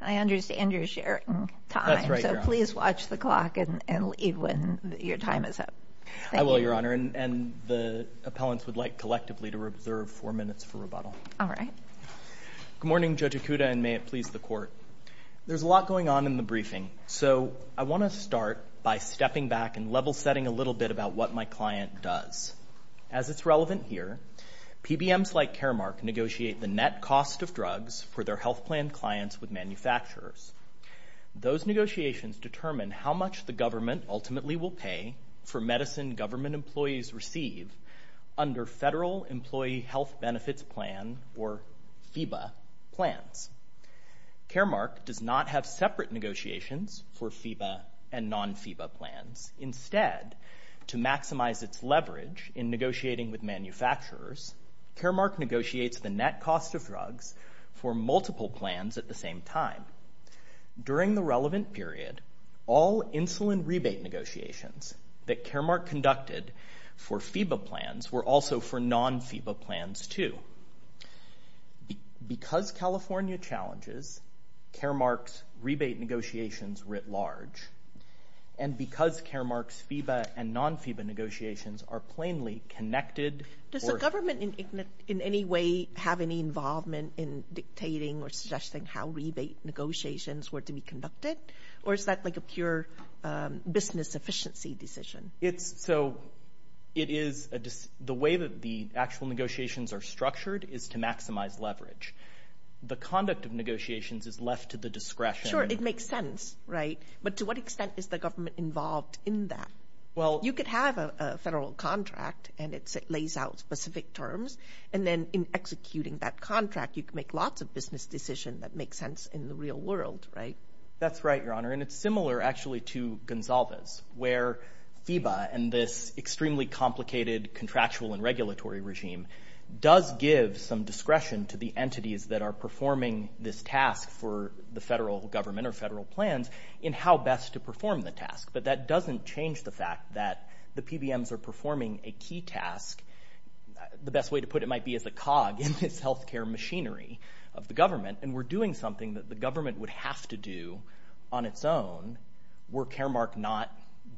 I understand you're sharing time so please watch the clock and leave when your time is up. I will your honor and the appellants would like collectively to reserve four minutes for rebuttal. All right. Good morning Judge Ikuda and may it please the court. There's a lot going on in the briefing so I want to start by stepping back and level-setting a little bit about what my client does. As it's relevant here, PBMs like Caremark negotiate the net cost of drugs for their health plan clients with manufacturers. Those negotiations determine how much the government ultimately will pay for medicine government employees receive under Federal Employee Health Benefits Plan or FIBA plans. Caremark does not have separate negotiations for FIBA and non FIBA plans. Instead, to maximize its leverage in negotiating with manufacturers, Caremark negotiates the net cost of drugs for multiple plans at the same time. During the relevant period, all insulin rebate negotiations that Caremark conducted for FIBA plans were also for non FIBA plans too. Because California challenges, Caremark's rebate negotiations were at large and because Caremark's FIBA and non FIBA negotiations are plainly connected... Does the government in any way have any involvement in dictating or suggesting how rebate negotiations were to be conducted or is that like a pure business efficiency decision? It's so it is just the way that the actual negotiations are structured is to maximize leverage. The conduct of negotiations is left to the discretion. It makes sense, right? But to what extent is the government involved in that? Well, you could have a federal contract and it lays out specific terms and then in executing that contract you can make lots of business decisions that make sense in the real world, right? That's right, Your Honor, and it's similar actually to Gonsalves where FIBA and this extremely complicated contractual and regulatory regime does give some discretion to the entities that are performing this task for the federal government or federal plans in how best to perform the task. But that doesn't change the fact that the PBMs are performing a key task. The best way to put it might be as a cog in this health care machinery of the government and we're doing something that the government would have to do on its own were Caremark not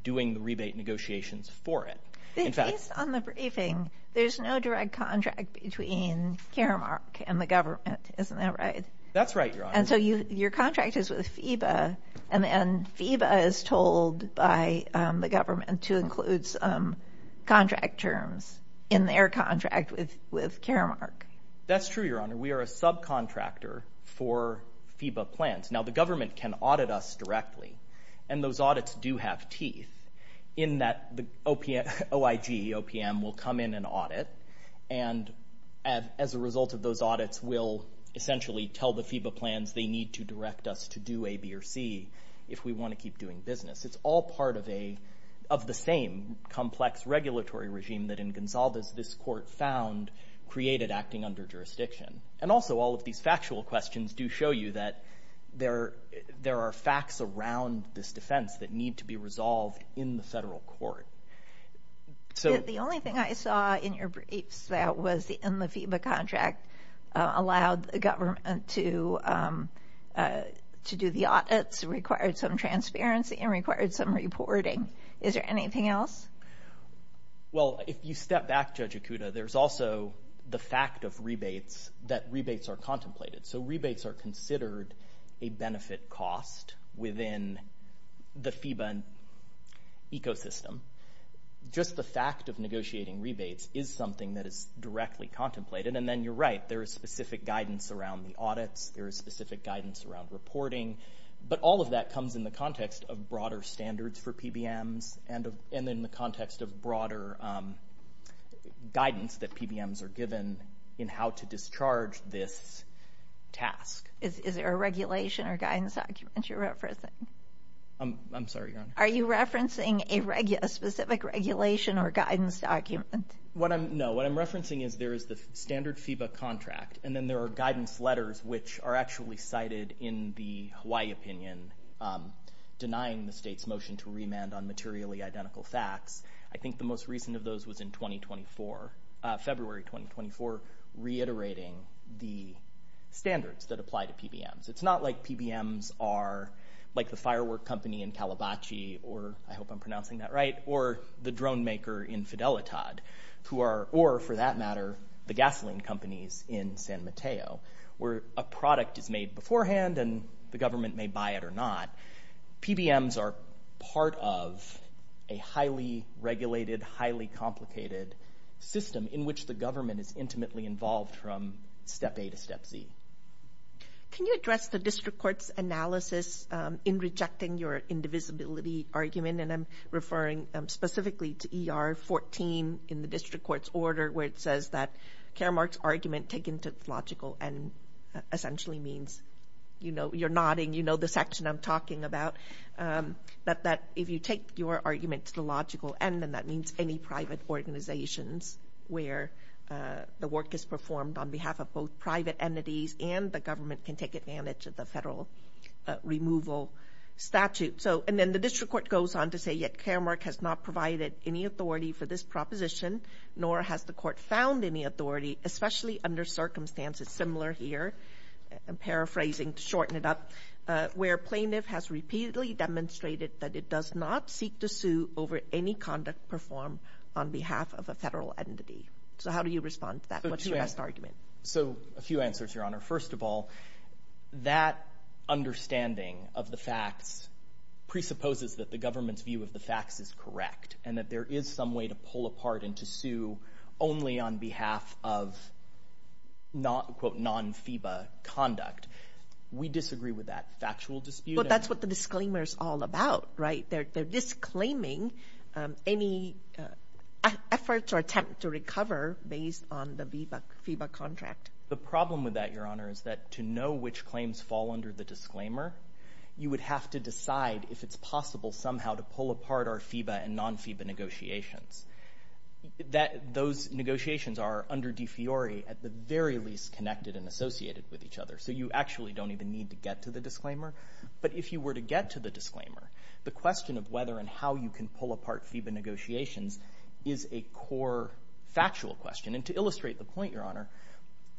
doing the rebate negotiations for it. Based on the briefing, there's no direct contract between Caremark and the government, isn't that right? That's right, Your Honor. And so your contract is with FIBA and then FIBA is told by the government to include some contract terms in their contract with with Caremark. That's true, Your Honor. We are a subcontractor for FIBA plans. Now the government can audit us directly and those audits do have teeth in that the OIG, O-P-M, will come in and audit and as a result of those audits will essentially tell the FIBA plans they need to direct us to do A, B, or C if we want to keep doing business. It's all part of a of the same complex regulatory regime that in Gonsalves this court found created acting under jurisdiction. And also all of these factual questions do show you that there there are facts around this defense that need to be resolved in the federal court. So the only thing I saw in your briefs that was in the FIBA contract allowed the government to to do the audits, required some transparency, and required some reporting. Is there anything else? Well if you step back Judge Ikuda, there's also the fact of rebates that rebates are contemplated. So rebates are considered a benefit cost within the FIBA ecosystem. Just the fact of negotiating rebates is something that is directly contemplated. And then you're right, there is specific guidance around the audits. There is specific guidance around reporting. But all of that comes in the context of broader standards for PBMs and in the context of broader guidance that PBMs are given in how to discharge this task. Is there a regulation or guidance document you're referencing? I'm sorry, Your Honor? Are you referencing a specific regulation or guidance document? What I'm, no, what I'm referencing is there is the standard FIBA contract and then there are guidance letters which are actually cited in the Hawaii opinion denying the state's motion to remand on materially identical facts. I think the most recent of those was in 2024, February 2024, reiterating the standards that apply to PBMs. It's not like PBMs are like the airwork company in Kalibachi, or I hope I'm pronouncing that right, or the drone maker in Fidelitad, who are, or for that matter the gasoline companies in San Mateo, where a product is made beforehand and the government may buy it or not. PBMs are part of a highly regulated, highly complicated system in which the government is intimately involved from step A to step Z. Can you address the District Court's analysis in rejecting your indivisibility argument? And I'm referring specifically to ER 14 in the District Court's order where it says that Karamark's argument taken to the logical end essentially means, you know, you're nodding, you know the section I'm talking about, that if you take your argument to the logical end and that means any private organizations where the work is performed on behalf of both private entities and the government can take advantage of the federal removal statute. So, and then the District Court goes on to say, yet Karamark has not provided any authority for this proposition, nor has the court found any authority, especially under circumstances similar here, and paraphrasing to shorten it up, where plaintiff has repeatedly demonstrated that it does not seek to sue over any conduct performed on behalf of a federal entity. So how do you respond to that? What's your best argument? So, a few answers, Your Honor. First of all, that understanding of the facts presupposes that the government's view of the facts is correct and that there is some way to pull apart and to sue only on behalf of not, quote, non-FEBA conduct. We disagree with that factual dispute. But that's what the disclaimer is all about, right? They're disclaiming any efforts or attempt to recover based on the FEBA contract. The problem with that, Your Honor, is that to know which claims fall under the disclaimer, you would have to decide if it's possible somehow to pull apart our FEBA and non-FEBA negotiations. That, those negotiations are under defiori at the very least connected and associated with each other. So you actually don't even need to get to the disclaimer. But if you were to get to the disclaimer, the question of whether and how you can pull apart FEBA negotiations is a core factual question. And to illustrate the point, Your Honor,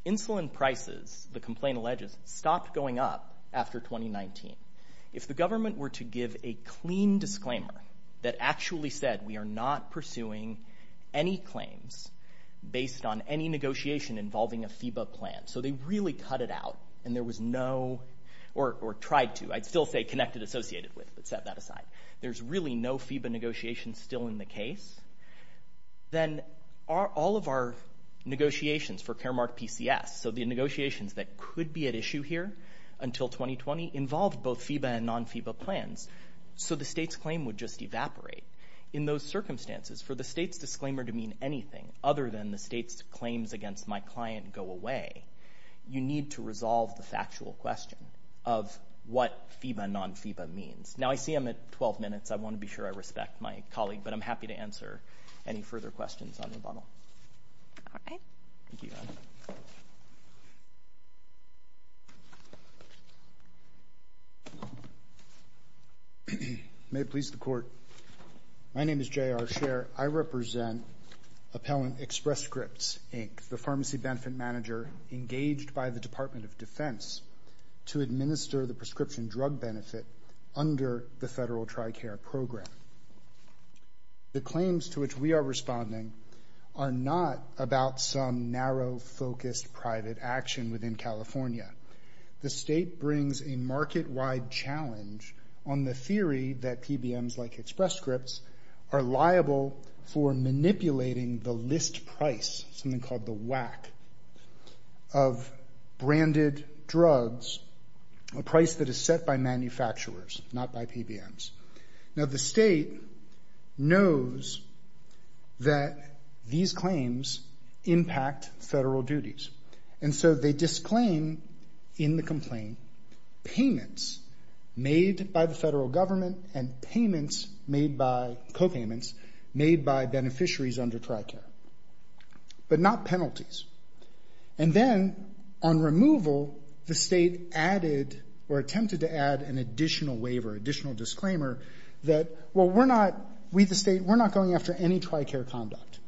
insulin prices, the complaint alleges, stopped going up after 2019. If the government were to give a clean disclaimer that actually said we are not pursuing any claims based on any negotiation involving a FEBA plan, so they really cut it out and there was no, or tried to, I'd still say connected associated with, but set that aside. There's really no FEBA negotiations still in the case. Then all of our negotiations for Caremark PCS, so the negotiations that could be at issue here until 2020, involved both FEBA and non-FEBA plans. So the state's claim would just evaporate. In those circumstances, for the state's disclaimer to mean anything other than the state's claims against my client go away, you need to resolve the factual question of what FEBA, non-FEBA means. Now I see I'm at 12 minutes. I want to be sure I respect my colleague, but I'm happy to answer any further questions on the bottle. May it please the Court. My name is J.R. Scherr. I represent Appellant Express Scripts, Inc., the pharmacy benefit manager engaged by the Department of Defense to administer the prescription drug benefit under the federal TRICARE program. The claims to which we are responding are not about some narrow focused private action within California. The state brings a market-wide challenge on the theory that PBMs, like Express Scripts, are liable for manipulating the list price, something called the WAC, of branded drugs, a price that is set by manufacturers, not by PBMs. Now the state knows that these claims impact federal duties, and so they disclaim in the complaint payments made by the federal but not penalties. And then on removal, the state added or attempted to add an additional waiver, additional disclaimer, that well we're not, we the state, we're not going after any TRICARE conduct.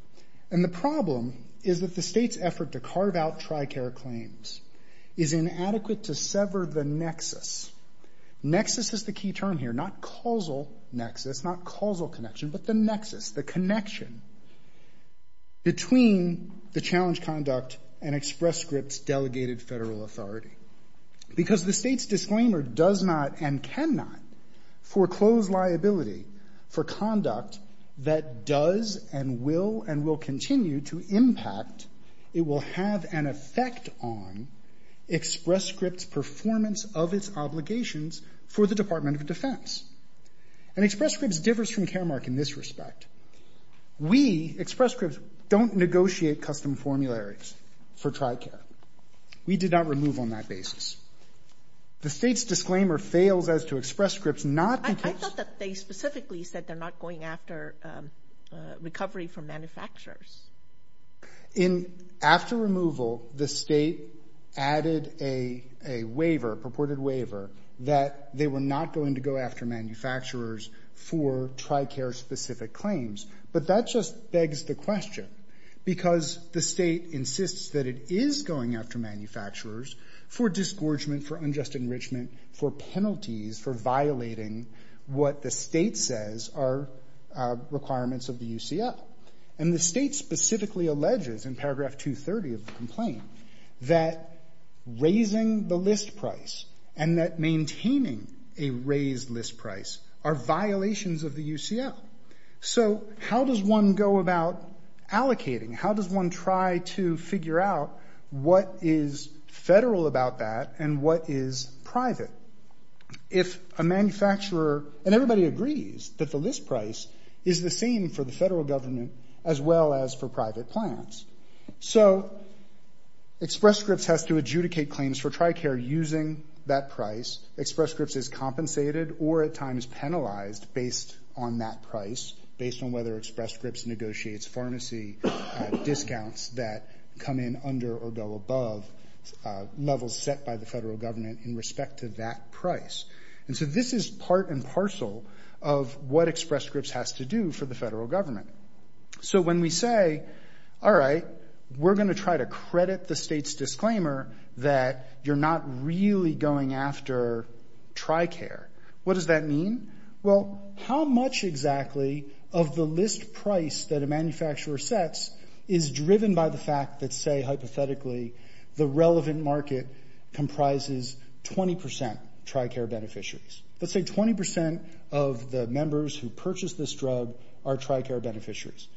And the problem is that the state's effort to carve out TRICARE claims is inadequate to sever the nexus. Nexus is the key term here, not causal nexus, not causal connection, but the nexus, the connection between the challenge conduct and Express Scripts' delegated federal authority. Because the state's disclaimer does not and cannot foreclose liability for conduct that does and will and will continue to impact, it will have an effect on Express Scripts' performance of its obligations for the Department of Defense. And Express Scripts differs from Caremark in this respect. We, Express Scripts, don't negotiate custom formularies for TRICARE. We did not remove on that basis. The state's disclaimer fails as to Express Scripts not because I thought that they specifically said they're not going after recovery from manufacturers. In, after removal, the state added a, a waiver, purported waiver, that they were not going to go after manufacturers for TRICARE specific claims. But that just begs the question. Because the state insists that it is going after manufacturers for disgorgement, for unjust enrichment, for penalties, for violating what the state says are requirements of the UCL. And the state specifically alleges in paragraph 230 of the complaint that raising the list price and that maintaining a raised list price are violations of the UCL. So, how does one go about allocating? How does one try to figure out what is federal about that and what is private? If a manufacturer, and everybody agrees that the list price is the same for the federal government as well as for private plans. So, Express Scripts has to adjudicate claims for TRICARE using that price. Express Scripts is compensated or at times penalized based on that price. Based on whether Express Scripts negotiates pharmacy discounts that come in under or go above levels set by the federal government in respect to that price. And so, this is part and parcel of what Express Scripts has to do for the federal government. So, when we say, all right, we're going to try to credit the state's disclaimer that you're not really going after TRICARE. What does that mean? Well, how much exactly of the list price that a manufacturer sets is driven by the fact that, say, hypothetically, the relevant market comprises 20% TRICARE beneficiaries? Let's say 20% of the members who purchase this drug are TRICARE beneficiaries.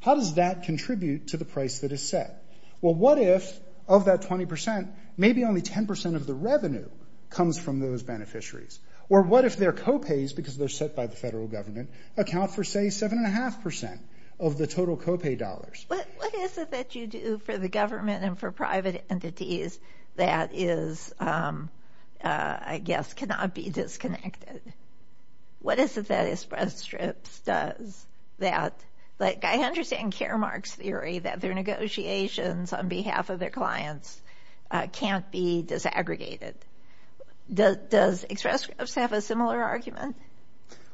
How does that contribute to the price that is set? Well, what if of that 20%, maybe only 10% of the revenue comes from those beneficiaries? Or what if their co-pays, because they're set by the federal government, account for, say, 7.5% of the total co-pay dollars? What is it that you do for the government and for private entities that is, I guess, cannot be disconnected? What is it that Express Scripts does that, like, I understand Caremark's theory that their negotiations on behalf of their clients can't be disaggregated. Does Express Scripts have a similar argument?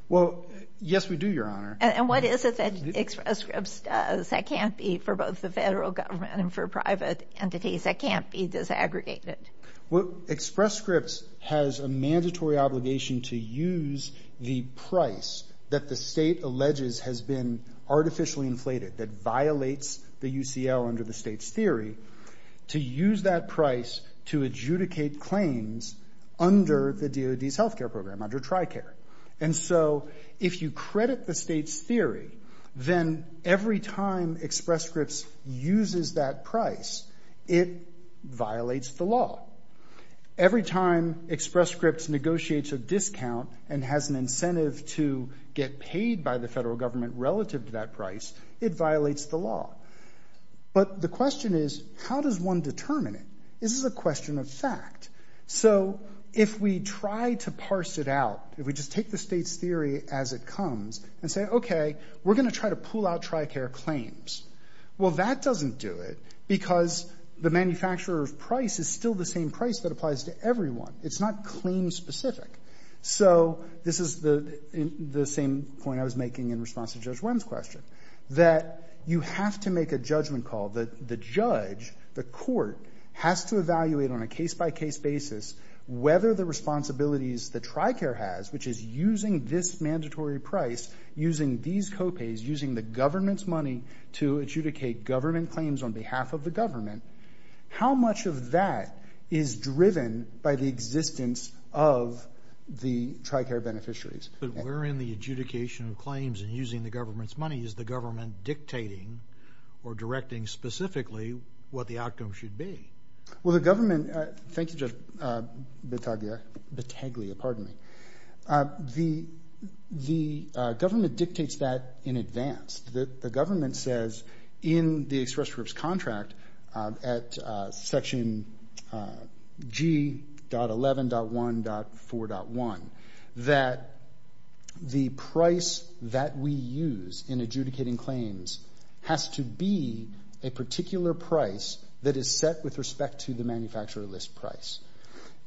Well, yes, we do, Your Honor. And what is it that Express Scripts does that can't be for both the federal government and for private entities that can't be disaggregated? Well, Express Scripts has a mandatory obligation to use the price that the state alleges has been artificially inflated, that violates the UCL under the state's theory, to use that price to adjudicate claims under the DOD's healthcare program, under TRICARE. And so, if you credit the state's theory, then every time Express Scripts uses that price, it violates the law. Every time Express Scripts negotiates a discount and has an incentive to get paid by the federal government relative to that price, it violates the law. But the question is, how does one determine it? This is a question of fact. So, if we try to parse it out, if we just take the state's theory as it comes and say, okay, we're going to try to pull out TRICARE claims, well, that doesn't do it because the manufacturer's price is still the same price that applies to everyone. It's not claim-specific. So, this is the same point I was making in response to Judge Wendell's question, that you have to make a judgment call, that the judge, the court, has to evaluate on a case-by-case basis whether the responsibilities that TRICARE has, which is using this mandatory price, using these co-pays, using the government's money to adjudicate government claims on behalf of the government, how much of that is driven by the existence of the TRICARE beneficiaries? But we're in the adjudication of claims and using the government's money. Is the government dictating or directing specifically what the outcome should be? Well, the government, thank you, Judge Betaglia, the government dictates that in advance. The government says in the express group's contract at section G.11.1.4.1 that the price that we use in adjudicating claims has to be a particular price that is set with respect to the manufacturer list price.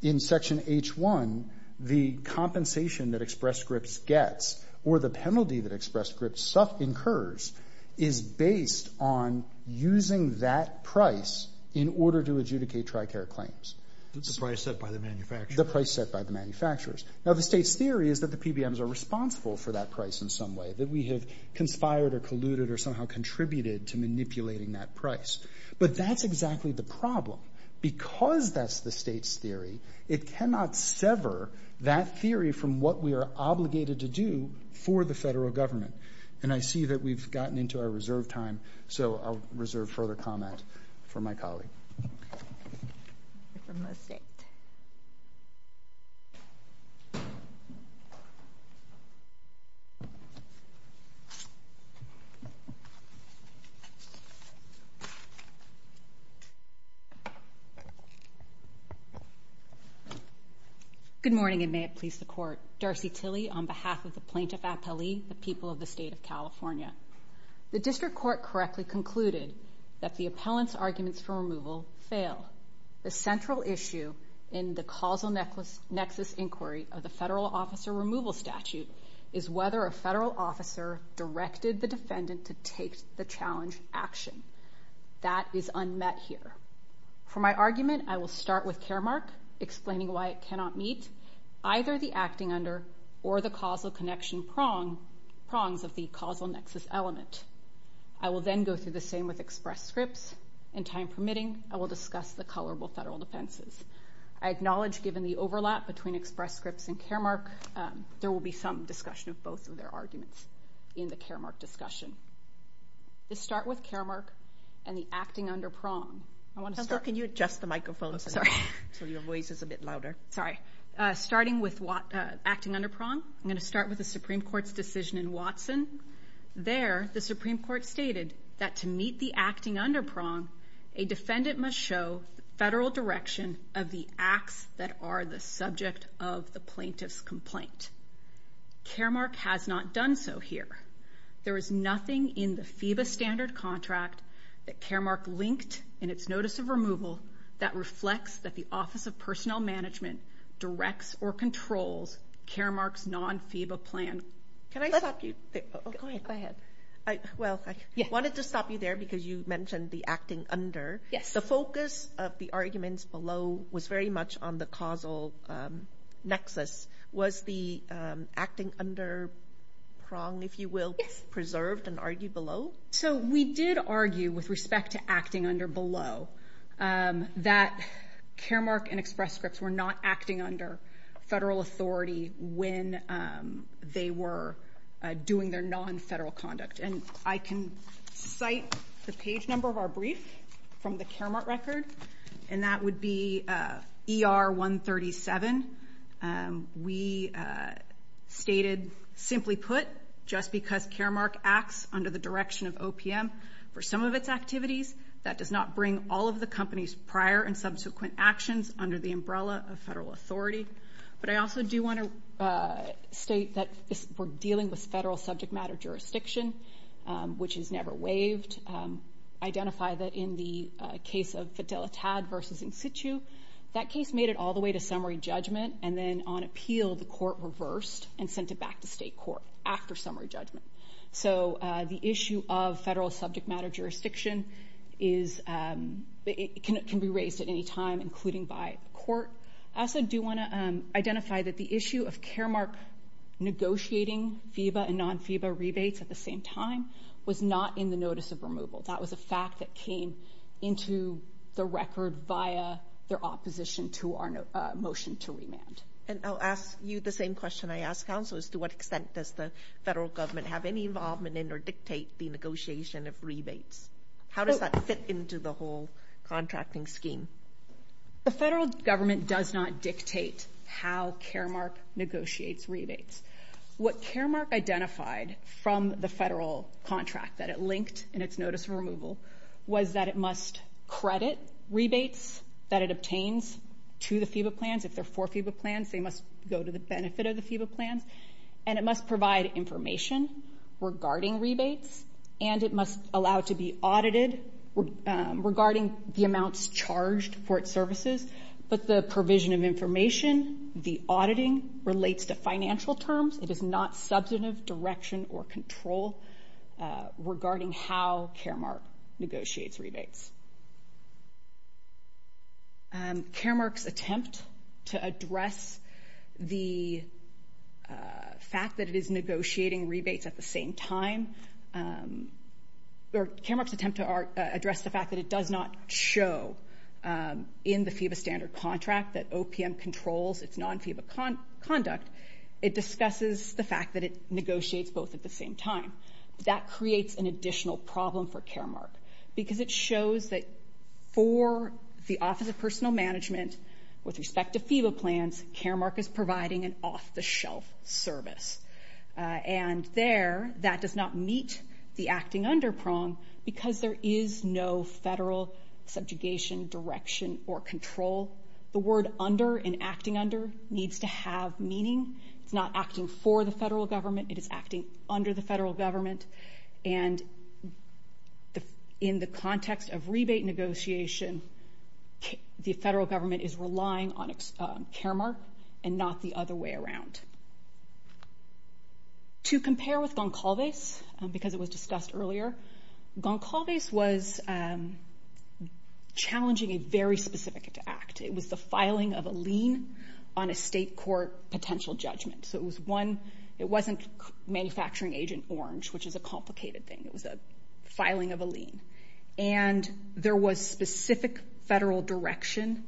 In section H.1, the compensation that express groups gets or the penalty that express groups incurs is based on using that price in order to adjudicate TRICARE claims. The price set by the manufacturer? The price set by the manufacturers. Now, the state's theory is that the PBMs are responsible for that price in some way, that we have conspired or colluded or somehow contributed to manipulating that price. But that's exactly the problem. Because that's the state's theory, it cannot sever that theory from what we are obligated to do for the federal government. And I see that we've gotten into our reserve time, so I'll reserve further comment for my colleague. Good morning, and may it please the Court. Darcy Tilley on behalf of the Plaintiff Appellee, the people of the State of California. The District Court correctly concluded that the appellant's arguments for removal fail. The central issue in the causal nexus inquiry of the federal officer removal statute is whether a federal officer directed the defendant to take the challenge action. That is unmet here. For my argument, I will start with Caremark, explaining why it cannot meet either the acting under or the causal connection prongs of the causal nexus element. I will then go through the same with Express Scripts, and time permitting, I will discuss the colorable federal defenses. I acknowledge, given the overlap between Express Scripts and Caremark, there will be some discussion of both of their arguments in the Caremark discussion. I'll start with Caremark and the acting under prong. I'm going to start with the Supreme Court's decision in Watson. There, the Supreme Court stated that to meet the acting under prong, a defendant must show federal direction of the acts that are the subject of the plaintiff's complaint. Caremark has not done so here. There is nothing in the FEBA standard contract that Caremark linked in its notice of removal that reflects that the Office of Personnel Management directs or controls Caremark's non-FEBA plan. Can I stop you? Go ahead. Well, I wanted to stop you there because you mentioned the acting under. The focus of the arguments below was very much on the causal nexus. Was the acting under prong, if you will, preserved and argued below? We did argue with respect to acting under below that Caremark and Express Scripts were not acting under federal authority when they were doing their non-federal conduct. I can cite the page number of our brief from the Caremark record. That would be ER 137. We stated, simply put, just because Caremark acts under the direction of OPM for some of its activities, that does not bring all of the company's prior and subsequent actions under the umbrella of federal authority. I also do want to state that we're dealing with federal subject matter jurisdiction, which is never waived. Identify that in the case of Fidelitad versus In Situ, that case made it all the way to summary judgment and then on appeal, the court reversed and sent it back to state court after summary judgment. The issue of federal subject matter jurisdiction can be raised at any time, including by court. I also do want to identify that the issue of Caremark negotiating FIBA and non-FIBA rebates at the same time was not in the notice of removal. That was a fact that came into the record via their opposition to our motion to remand. I'll ask you the same question I ask counselors. To what extent does the federal government have any involvement in or dictate the negotiation of rebates? How does that fit into the whole contracting scheme? The federal government does not dictate how Caremark negotiates rebates. What Caremark identified from the federal contract that it linked in its notice of removal was that it must credit rebates that it obtains to the FIBA plans. If they're for FIBA plans, they must go to the benefit of the FIBA plans. And it must provide information regarding rebates, and it must allow it to be audited regarding the amounts charged for its services. But the provision of information, the auditing relates to financial terms. It is not substantive direction or control regarding how Caremark negotiates rebates. Caremark's attempt to address the fact that it is negotiating rebates at the same time or Caremark's attempt to address the fact that it does not show in the FIBA standard contract that OPM controls its non-FIBA conduct, it discusses the fact that it negotiates both at the same time. That creates an additional problem for Caremark because it shows that for the Office of Personal Management, with respect to FIBA plans, Caremark is providing an off-the-shelf service. And there, that does not meet the acting under prong because there is no federal subjugation direction or control. The word under and acting under needs to have meaning. It's not acting for the federal government, it is acting under the federal government. And in the context of rebate negotiation, the federal government is relying on Caremark and not the other way around. To compare with Goncalves, because it was discussed earlier, Goncalves was challenging a very specific act. It was the filing of a lien on a state court potential judgment. So it was one, it wasn't manufacturing agent orange, which is a complicated thing. It was the filing of a lien. And there was specific federal direction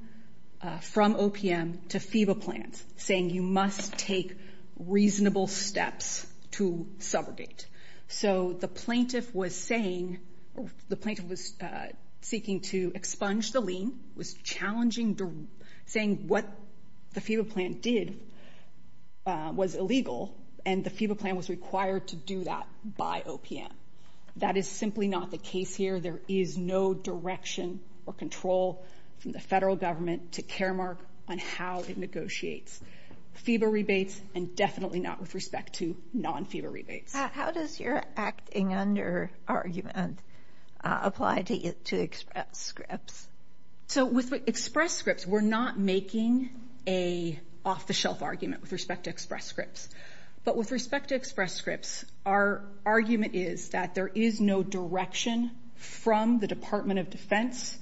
from OPM to FIBA plans saying you must take reasonable steps to subrogate. So the plaintiff was saying, the plaintiff was seeking to expunge the lien, was challenging, saying what the FIBA plan did was illegal and the FIBA plan was required to do that by OPM. That is simply not the case here. There is no direction or control from the federal government to Caremark on how it negotiates FIBA rebates and definitely not with respect to non-FIBA rebates. How does your acting under argument apply to Express Scripts? So with Express Scripts, we're not making an off-the-shelf argument with respect to Express Scripts. But with respect to Express Scripts, our argument is that there is no direction from the Department of Defense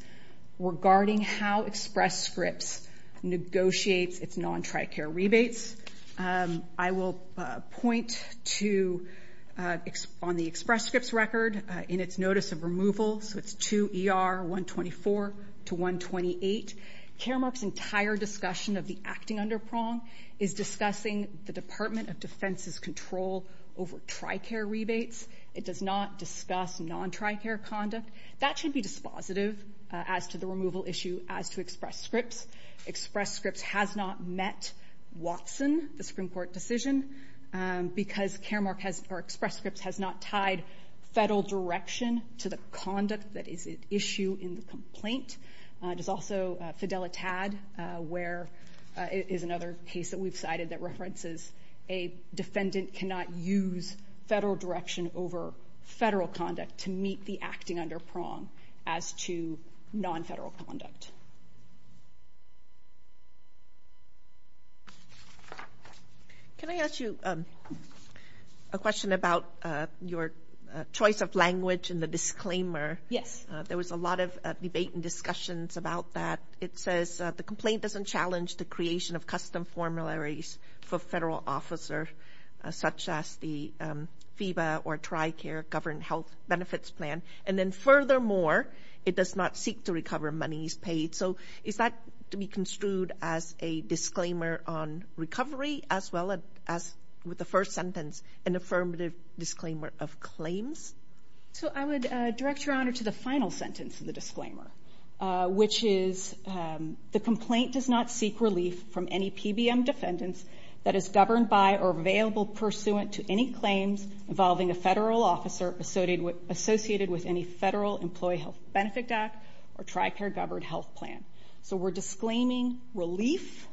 regarding how Express Scripts negotiates its non-Tricare rebates. I will point to on the Express Scripts record in its notice of removal, so it's 2ER124-128. Caremark's entire discussion of the acting under prong is discussing the Department of Defense's control over Tricare rebates. It does not discuss non-Tricare conduct. That should be dispositive as to the removal issue as to Express Scripts. Express Scripts has not met Watson, the Supreme Court decision, because Express Scripts has not tied federal direction to the conduct that is at issue in the complaint. There's also Fidelitad, where it is another case that we've cited that references a defendant cannot use federal direction over federal conduct to meet the acting under prong as to non-federal conduct. Can I ask you a question about your choice of language in the disclaimer? Yes. There was a lot of debate and discussions about that. It says the complaint doesn't challenge the creation of custom formularies for federal officer, such as the FEBA or Tricare Governed Health Benefits Plan, and then furthermore, it does not seek to recover monies paid. Is that to be construed as a disclaimer on recovery, as well as, with the first sentence, an affirmative disclaimer of claims? I would direct your honor to the final sentence of the disclaimer, which is the complaint does not seek relief from any PBM defendants that is governed by or available pursuant to any claims involving a federal officer associated with any Federal Employee Health Benefit Act or Tricare Governed Health Plan. So we're disclaiming relief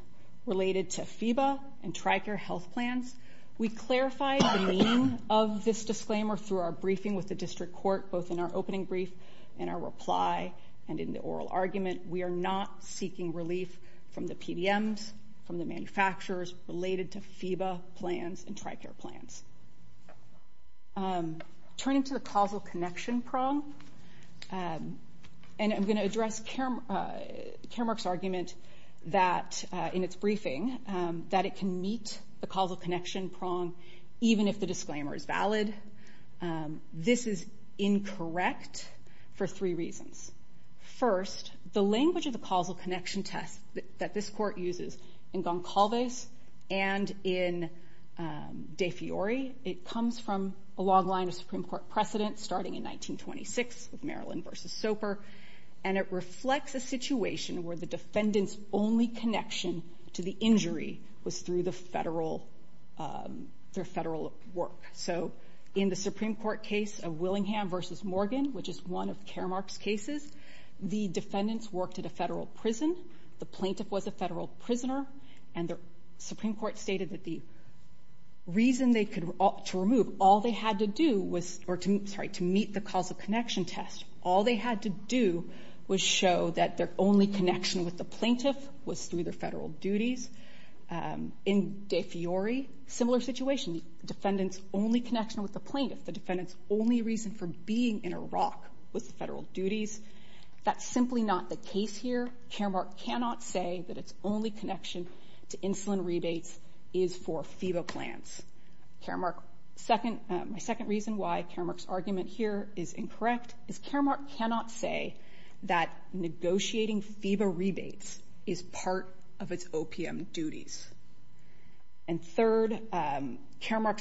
related to FEBA and Tricare Health Plans. We clarified the meaning of this disclaimer through our briefing with the district court, both in our opening brief and our reply and in the oral argument. We are not seeking relief from the PBMs, from the manufacturers related to FEBA plans and Tricare plans. Turning to the causal connection prong, and I'm going to address Caremark's argument that in its briefing, that it can meet the causal connection prong even if the disclaimer is valid. This is incorrect for three reasons. First, the language of the causal connection test that this court uses in Goncalves and in De Fiori, it comes from a long line of Supreme Court precedent starting in 1926 with Maryland v. Soper, and it reflects a situation where the defendant's only connection to the injury was through their federal work. So in the Supreme Court case of Willingham v. Morgan, which is one of Caremark's cases, the defendants worked at a federal prison, the plaintiff was a federal prisoner, and the Supreme Court stated that the reason they could, to remove, all they had to do was, or to meet the causal connection test, all they had to do was show that their only connection with the plaintiff was through their federal duties. In De Fiori, similar situation. Defendant's only connection with the plaintiff, the defendant's only reason for being in Iraq was the federal duties. That's simply not the case here. Caremark cannot say that its only connection to insulin rebates is for FEBA plans. My second reason why Caremark's argument here is incorrect is Caremark cannot say that negotiating FEBA rebates is part of its OPM duties. And third, it's simply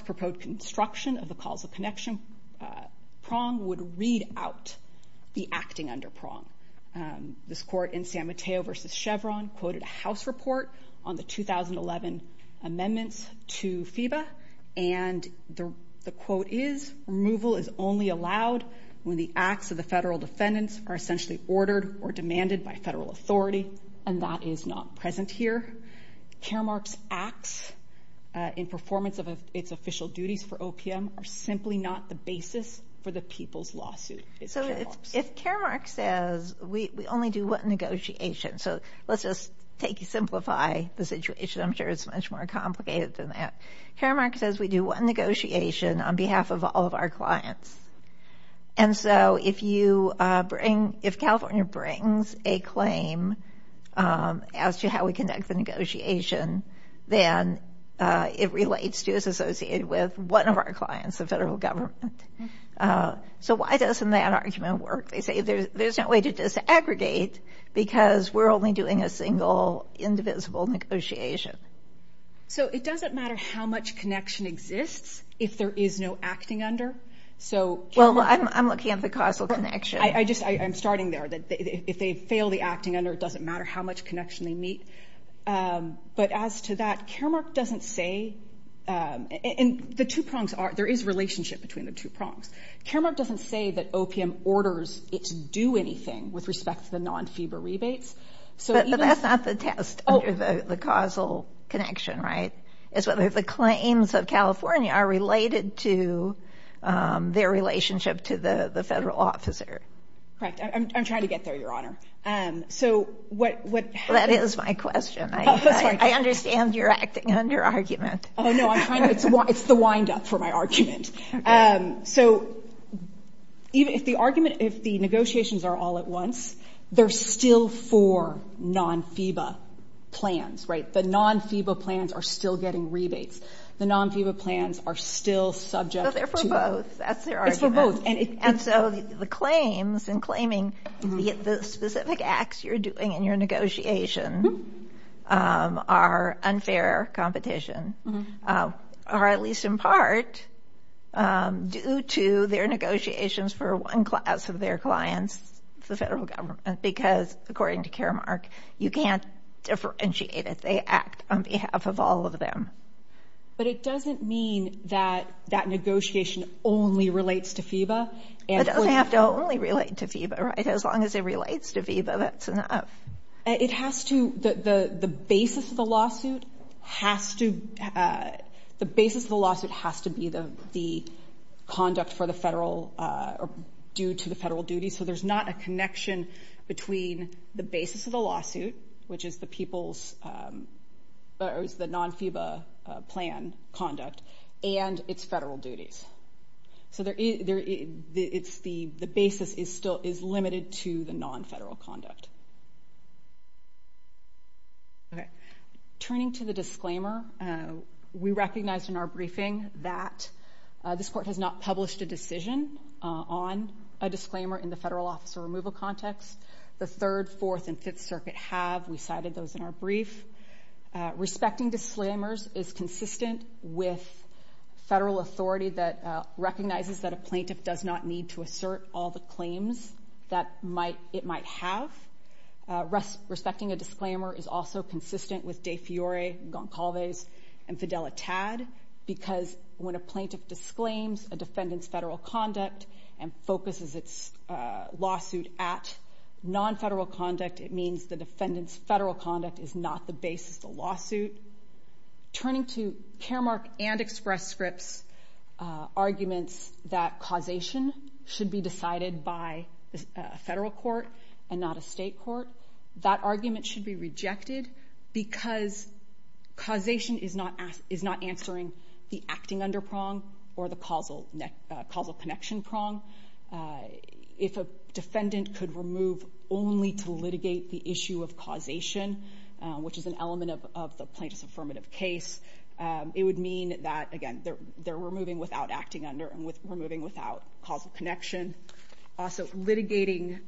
acting under prong. This court in San Mateo v. Chevron quoted a House report on the 2011 amendments to FEBA, and the quote is, removal is only allowed when the acts of the federal defendants are essentially ordered or demanded by federal authority, and that is not present here. Caremark's acts in performance of its official duties for OPM are simply not the basis for the people's lawsuit. If Caremark says we only do one negotiation, so let's just simplify the situation. I'm sure it's much more complicated than that. Caremark says we do one negotiation on behalf of all of our clients. And so if you bring, if California brings a claim as to how we negotiate, we do it on behalf of all of our clients, the federal government. So why doesn't that argument work? They say there's no way to disaggregate because we're only doing a single indivisible negotiation. So it doesn't matter how much connection exists if there is no acting under? Well, I'm looking at the causal connection. I'm starting there. If they fail the acting under, it doesn't matter how much connection they meet. But as to that, Caremark doesn't say, and the two prongs are, there is relationship between the two prongs. Caremark doesn't say that OPM orders it to do anything with respect to the non-FEBRA rebates. But that's not the test under the causal connection, right? It's whether the claims of California are related to their relationship to the federal officer. Correct. I'm trying to get there, Your Honor. That is my question. I understand you're acting under argument. Oh, no. It's the wind-up for my argument. So if the argument, if the negotiations are all at once, they're still for non-FEBRA plans, right? The non-FEBRA plans are still getting rebates. The non-FEBRA plans are still subject to... But they're for both. That's their argument. And so the claims and claiming, the specific acts you're doing in your negotiation are unfair competition, or at least in part, due to their negotiations for one class of their clients, the federal government. Because according to Caremark, you can't differentiate it. They act on behalf of all of them. But it doesn't mean that that negotiation only relates to FEBRA. It doesn't have to only relate to FEBRA, right? As long as it relates to FEBRA, that's enough. It has to, the basis of the lawsuit has to, the basis of the lawsuit has to be the conduct for the federal, or due to the federal duty. So there's not a connection between the basis of the lawsuit, which is the people's, or is the non-FEBRA plan conduct, and its federal duties. So there is, it's the basis is still, is limited to the non-federal conduct. Turning to the disclaimer, we recognized in our briefing that this court has not published a decision on a disclaimer in the federal officer removal context. The Third, Fourth, and Fifth Circuit have. We cited those in our brief. Respecting disclaimers is consistent with federal authority that recognizes that a plaintiff does not need to assert all the claims that it might have. Respecting a disclaimer is also consistent with De Fiore, Goncalves, and Fidelitad because when a plaintiff disclaims a defendant's federal conduct and focuses its lawsuit at non-federal conduct, it means the defendant's federal conduct is not the basis of the lawsuit. Turning to Caremark and Express Script's arguments that causation should be decided by a federal court and not a state court, that argument should be rejected because causation is not answering the acting under prong or the causal connection prong. If a defendant could remove only to litigate the issue of causation, which is an element of the plaintiff's affirmative case, it would mean that, again, they're removing without acting under and removing without causal connection. Also, litigating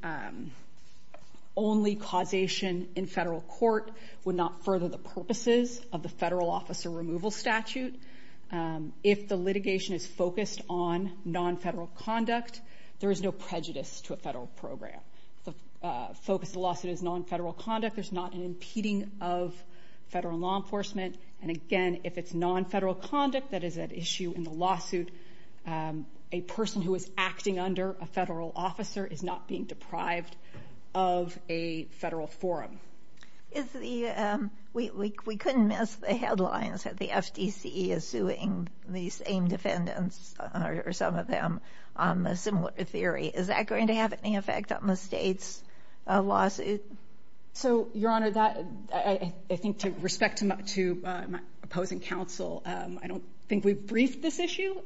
only causation in federal court would not further the purposes of the federal officer removal statute. If the litigation is focused on non-federal conduct, there is no prejudice to a federal program. If the focus of the lawsuit is non-federal conduct, there's not an impeding of federal law enforcement. Again, if it's non-federal conduct that is at issue in the lawsuit, a person who is acting under a federal officer is not being deprived of a federal forum. We couldn't miss the headlines that the FDCE is suing the same defendants or some of them on a similar theory. Is that going to have any effect on the state's lawsuit? Your Honor, I think to respect to my opposing counsel, I don't think we've briefed this issue.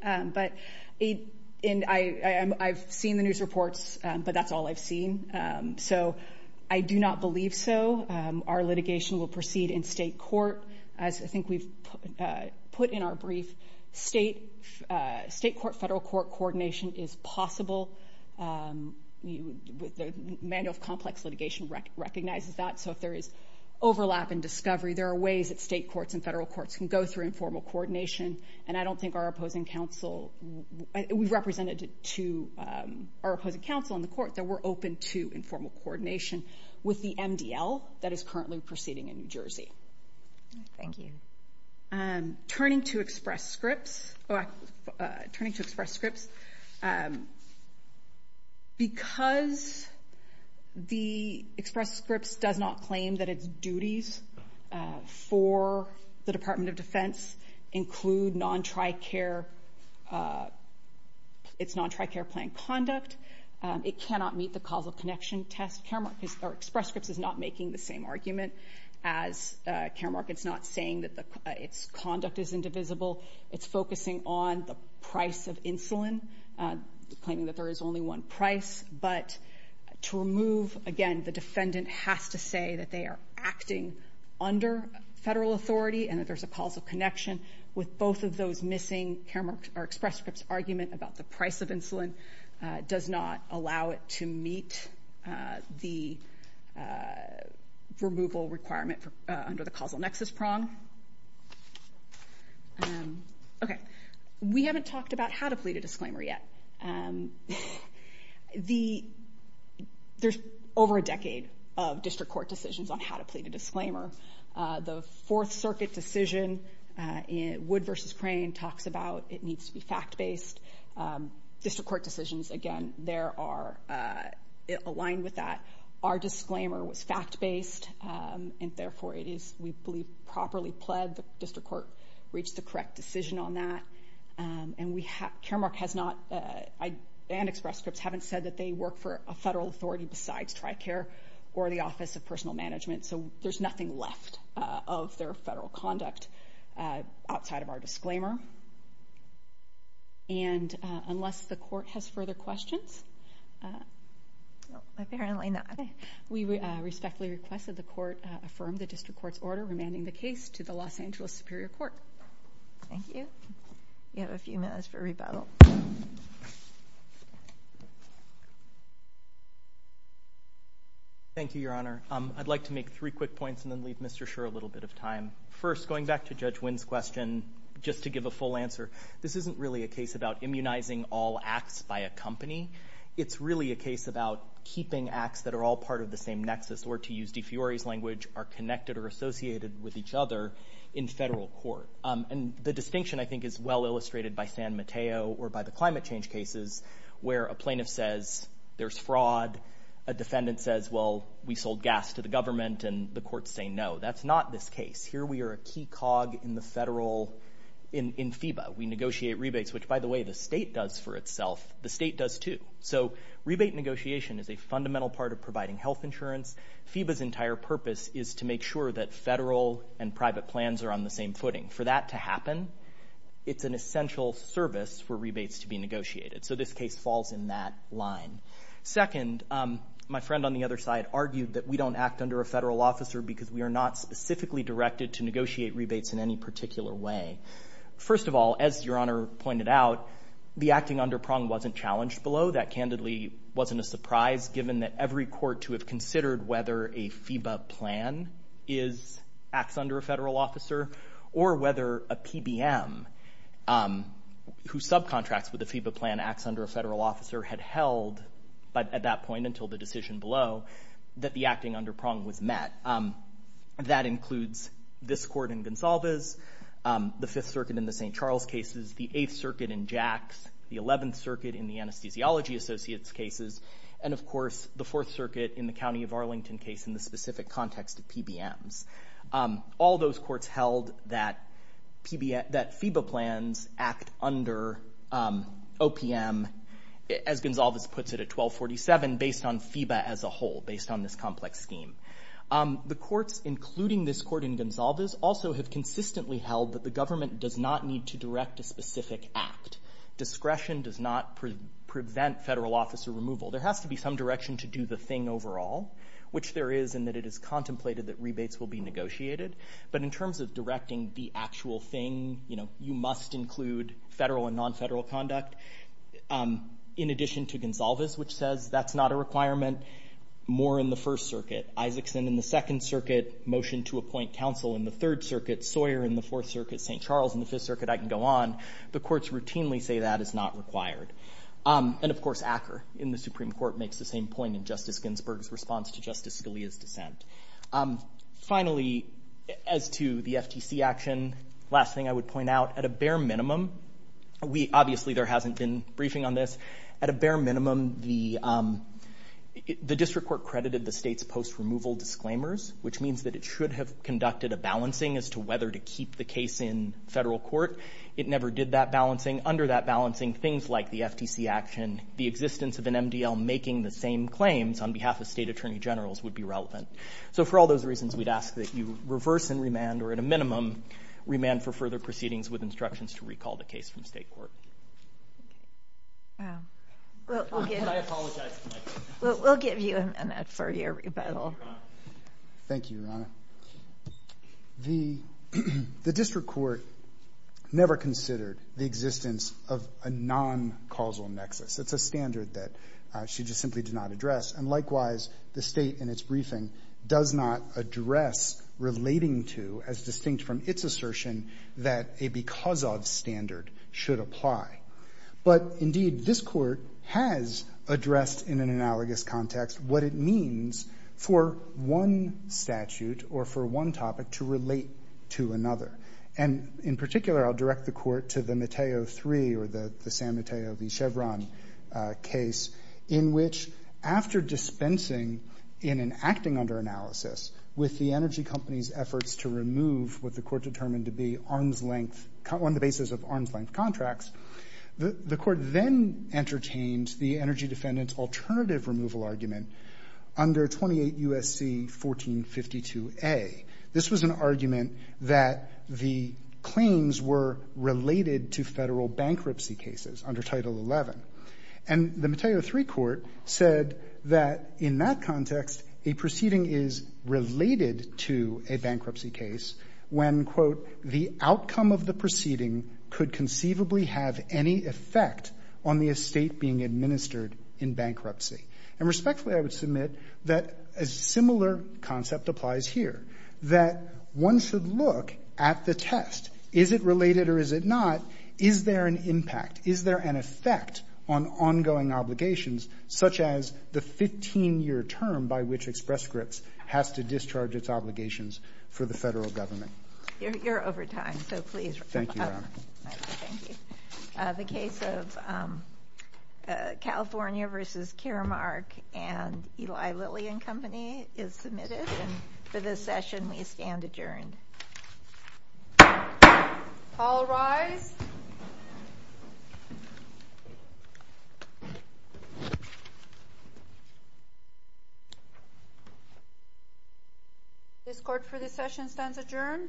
I've seen the news reports, but that's all I've seen. I do not believe so. Our litigation will proceed in state court. As I think we've put in our brief, state court-federal court coordination is possible. The manual of complex litigation recognizes that. If there is overlap and discovery, there are ways that state courts and federal courts can go through informal coordination. I don't think our opposing counsel, we've represented to our opposing counsel in the court that we're open to informal coordination with the MDL that is currently proceeding in New Jersey. Turning to express scripts, because the express scripts does not claim that it's duties for the Department of Defense include non-tri-care, it's non-tri-care plan conduct. It cannot meet the causal connection test. Express scripts is not making the same argument as Care Mark. It's not saying that its conduct is indivisible. It's focusing on the price of insulin, claiming that there is only one price. But to remove, again, the defendant has to say that they are acting under federal authority and that there's a causal connection with both of those missing Care Mark or express scripts argument about the price of insulin does not allow it to meet the removal requirement under the causal nexus prong. We haven't talked about how to plead a disclaimer yet. There's over a decade of district court decisions on how to plead a disclaimer. The Fourth Circuit decision, Wood v. Crane, talks about it needs to be fact-based. District court decisions, again, there are aligned with that. Our disclaimer was fact-based and therefore it is, we believe, properly pled. The district court reached the correct decision on that. And Care Mark has not, and express scripts haven't said that they work for a federal authority besides tri-care or the Office of Personal Management. So there's nothing left of their federal conduct outside of our disclaimer. And unless the court has further questions, we respectfully request that the court affirm the district court's order remanding the case to the Los Angeles Superior Court. Thank you. You have a few minutes for rebuttal. Thank you, Your Honor. I'd like to make three quick points and then leave Mr. Scherr a little bit of time. First, going back to Judge Wynn's question, just to give a full answer, this isn't really a case about immunizing all acts by a company. It's really a case about keeping acts that are all part of the same nexus, or to use DeFiori's language, are connected or associated with each other in federal court. And the distinction, I think, is well illustrated by San Mateo or by the climate change cases where a plaintiff says there's fraud, a defendant says, well, we sold gas to the government, and the courts say no. That's not this case. Here we are a key cog in the federal, in FEBA. We negotiate rebates, which, by the way, the state does for itself. The state does too. So rebate negotiation is a fundamental part of providing health insurance. FEBA's entire purpose is to make sure that federal and private plans are on the same footing. For that to happen, it's an essential service for rebates to be negotiated. So this case falls in that line. Second, my friend on the other side argued that we don't act under a federal officer because we are not specifically directed to negotiate rebates in any particular way. First of all, as Your Honor pointed out, the acting under Prong wasn't challenged below. That, candidly, wasn't a surprise given that every court to have considered whether a FEBA plan is, acts under a federal officer, or whether a PBM who subcontracts with a FEBA plan, acts under a federal officer, had held at that point until the decision below that the acting under Prong was met. That includes this court in Gonsalves, the Fifth Circuit in the St. Charles cases, the Eighth Circuit in Jacks, the Eleventh Circuit in the Anesthesiology Associates cases, and, of course, the Fourth Circuit in the County of Arlington case in the specific context of PBMs. All those courts held that FEBA plans act under OPM, as Gonsalves puts it at 1247, based on FEBA as a whole, based on this complex scheme. The courts, including this court in Gonsalves, also have consistently held that the government does not need to direct a specific act. Discretion does not prevent federal officer removal. There has to be some direction to do the thing overall, which there is, in that it is contemplated that rebates will be negotiated. But in terms of directing the actual thing, you must include federal and non-federal conduct. In addition to Gonsalves, which says that's not a requirement, more in the First Circuit. Isaacson in the Second Circuit, motion to appoint counsel in the Third Circuit, Sawyer in the Fourth Circuit, St. Charles in the Fifth Circuit, I can go on. The courts routinely say that is not required. And, of course, Acker in the Supreme Court makes the same point in Justice Ginsburg's response to Justice Scalia's dissent. Finally, as to the FTC action, last thing I would point out, at a bare minimum, obviously there hasn't been briefing on this, but at a bare minimum, the district court credited the state's post-removal disclaimers, which means that it should have conducted a balancing as to whether to keep the case in federal court. It never did that balancing. Under that balancing, things like the FTC action, the existence of an MDL making the same claims on behalf of state attorney generals would be relevant. So for all those reasons, we'd ask that you reverse and remand, or at a minimum, remand for further proceedings with instructions to recall the case from state court. Wow. Well, we'll give you a minute for your rebuttal. Thank you, Your Honor. The district court never considered the existence of a non-causal nexus. It's a standard that she just simply did not address. And likewise, the state in its briefing does not address relating to, as distinct from its assertion, that a because-of standard should apply. But indeed, this court has addressed in an analogous context what it means for one statute or for one topic to relate to another. And in particular, I'll direct the court to the Mateo III or the Sam Mateo v. Chevron case, in which after dispensing in an acting under analysis with the energy company's efforts to remove what the court cases of arm's-length contracts, the court then entertained the energy defendant's alternative removal argument under 28 U.S.C. 1452A. This was an argument that the claims were related to federal bankruptcy cases under Title XI. And the Mateo III court said that in that context, a proceeding is related to a bankruptcy case when, quote, the outcome of the proceeding could conceivably have any effect on the estate being administered in bankruptcy. And respectfully, I would submit that a similar concept applies here, that one should look at the test. Is it related or is it not? Is there an impact? Is there an effect on ongoing obligations such as the 15-year term by which Express Scripts has to discharge its obligations for the federal government? You're over time, so please wrap up. Thank you. The case of California v. Karamark and Eli Lilly and Company is submitted. And for this session, we stand adjourned. All rise. This court, for this session, stands adjourned.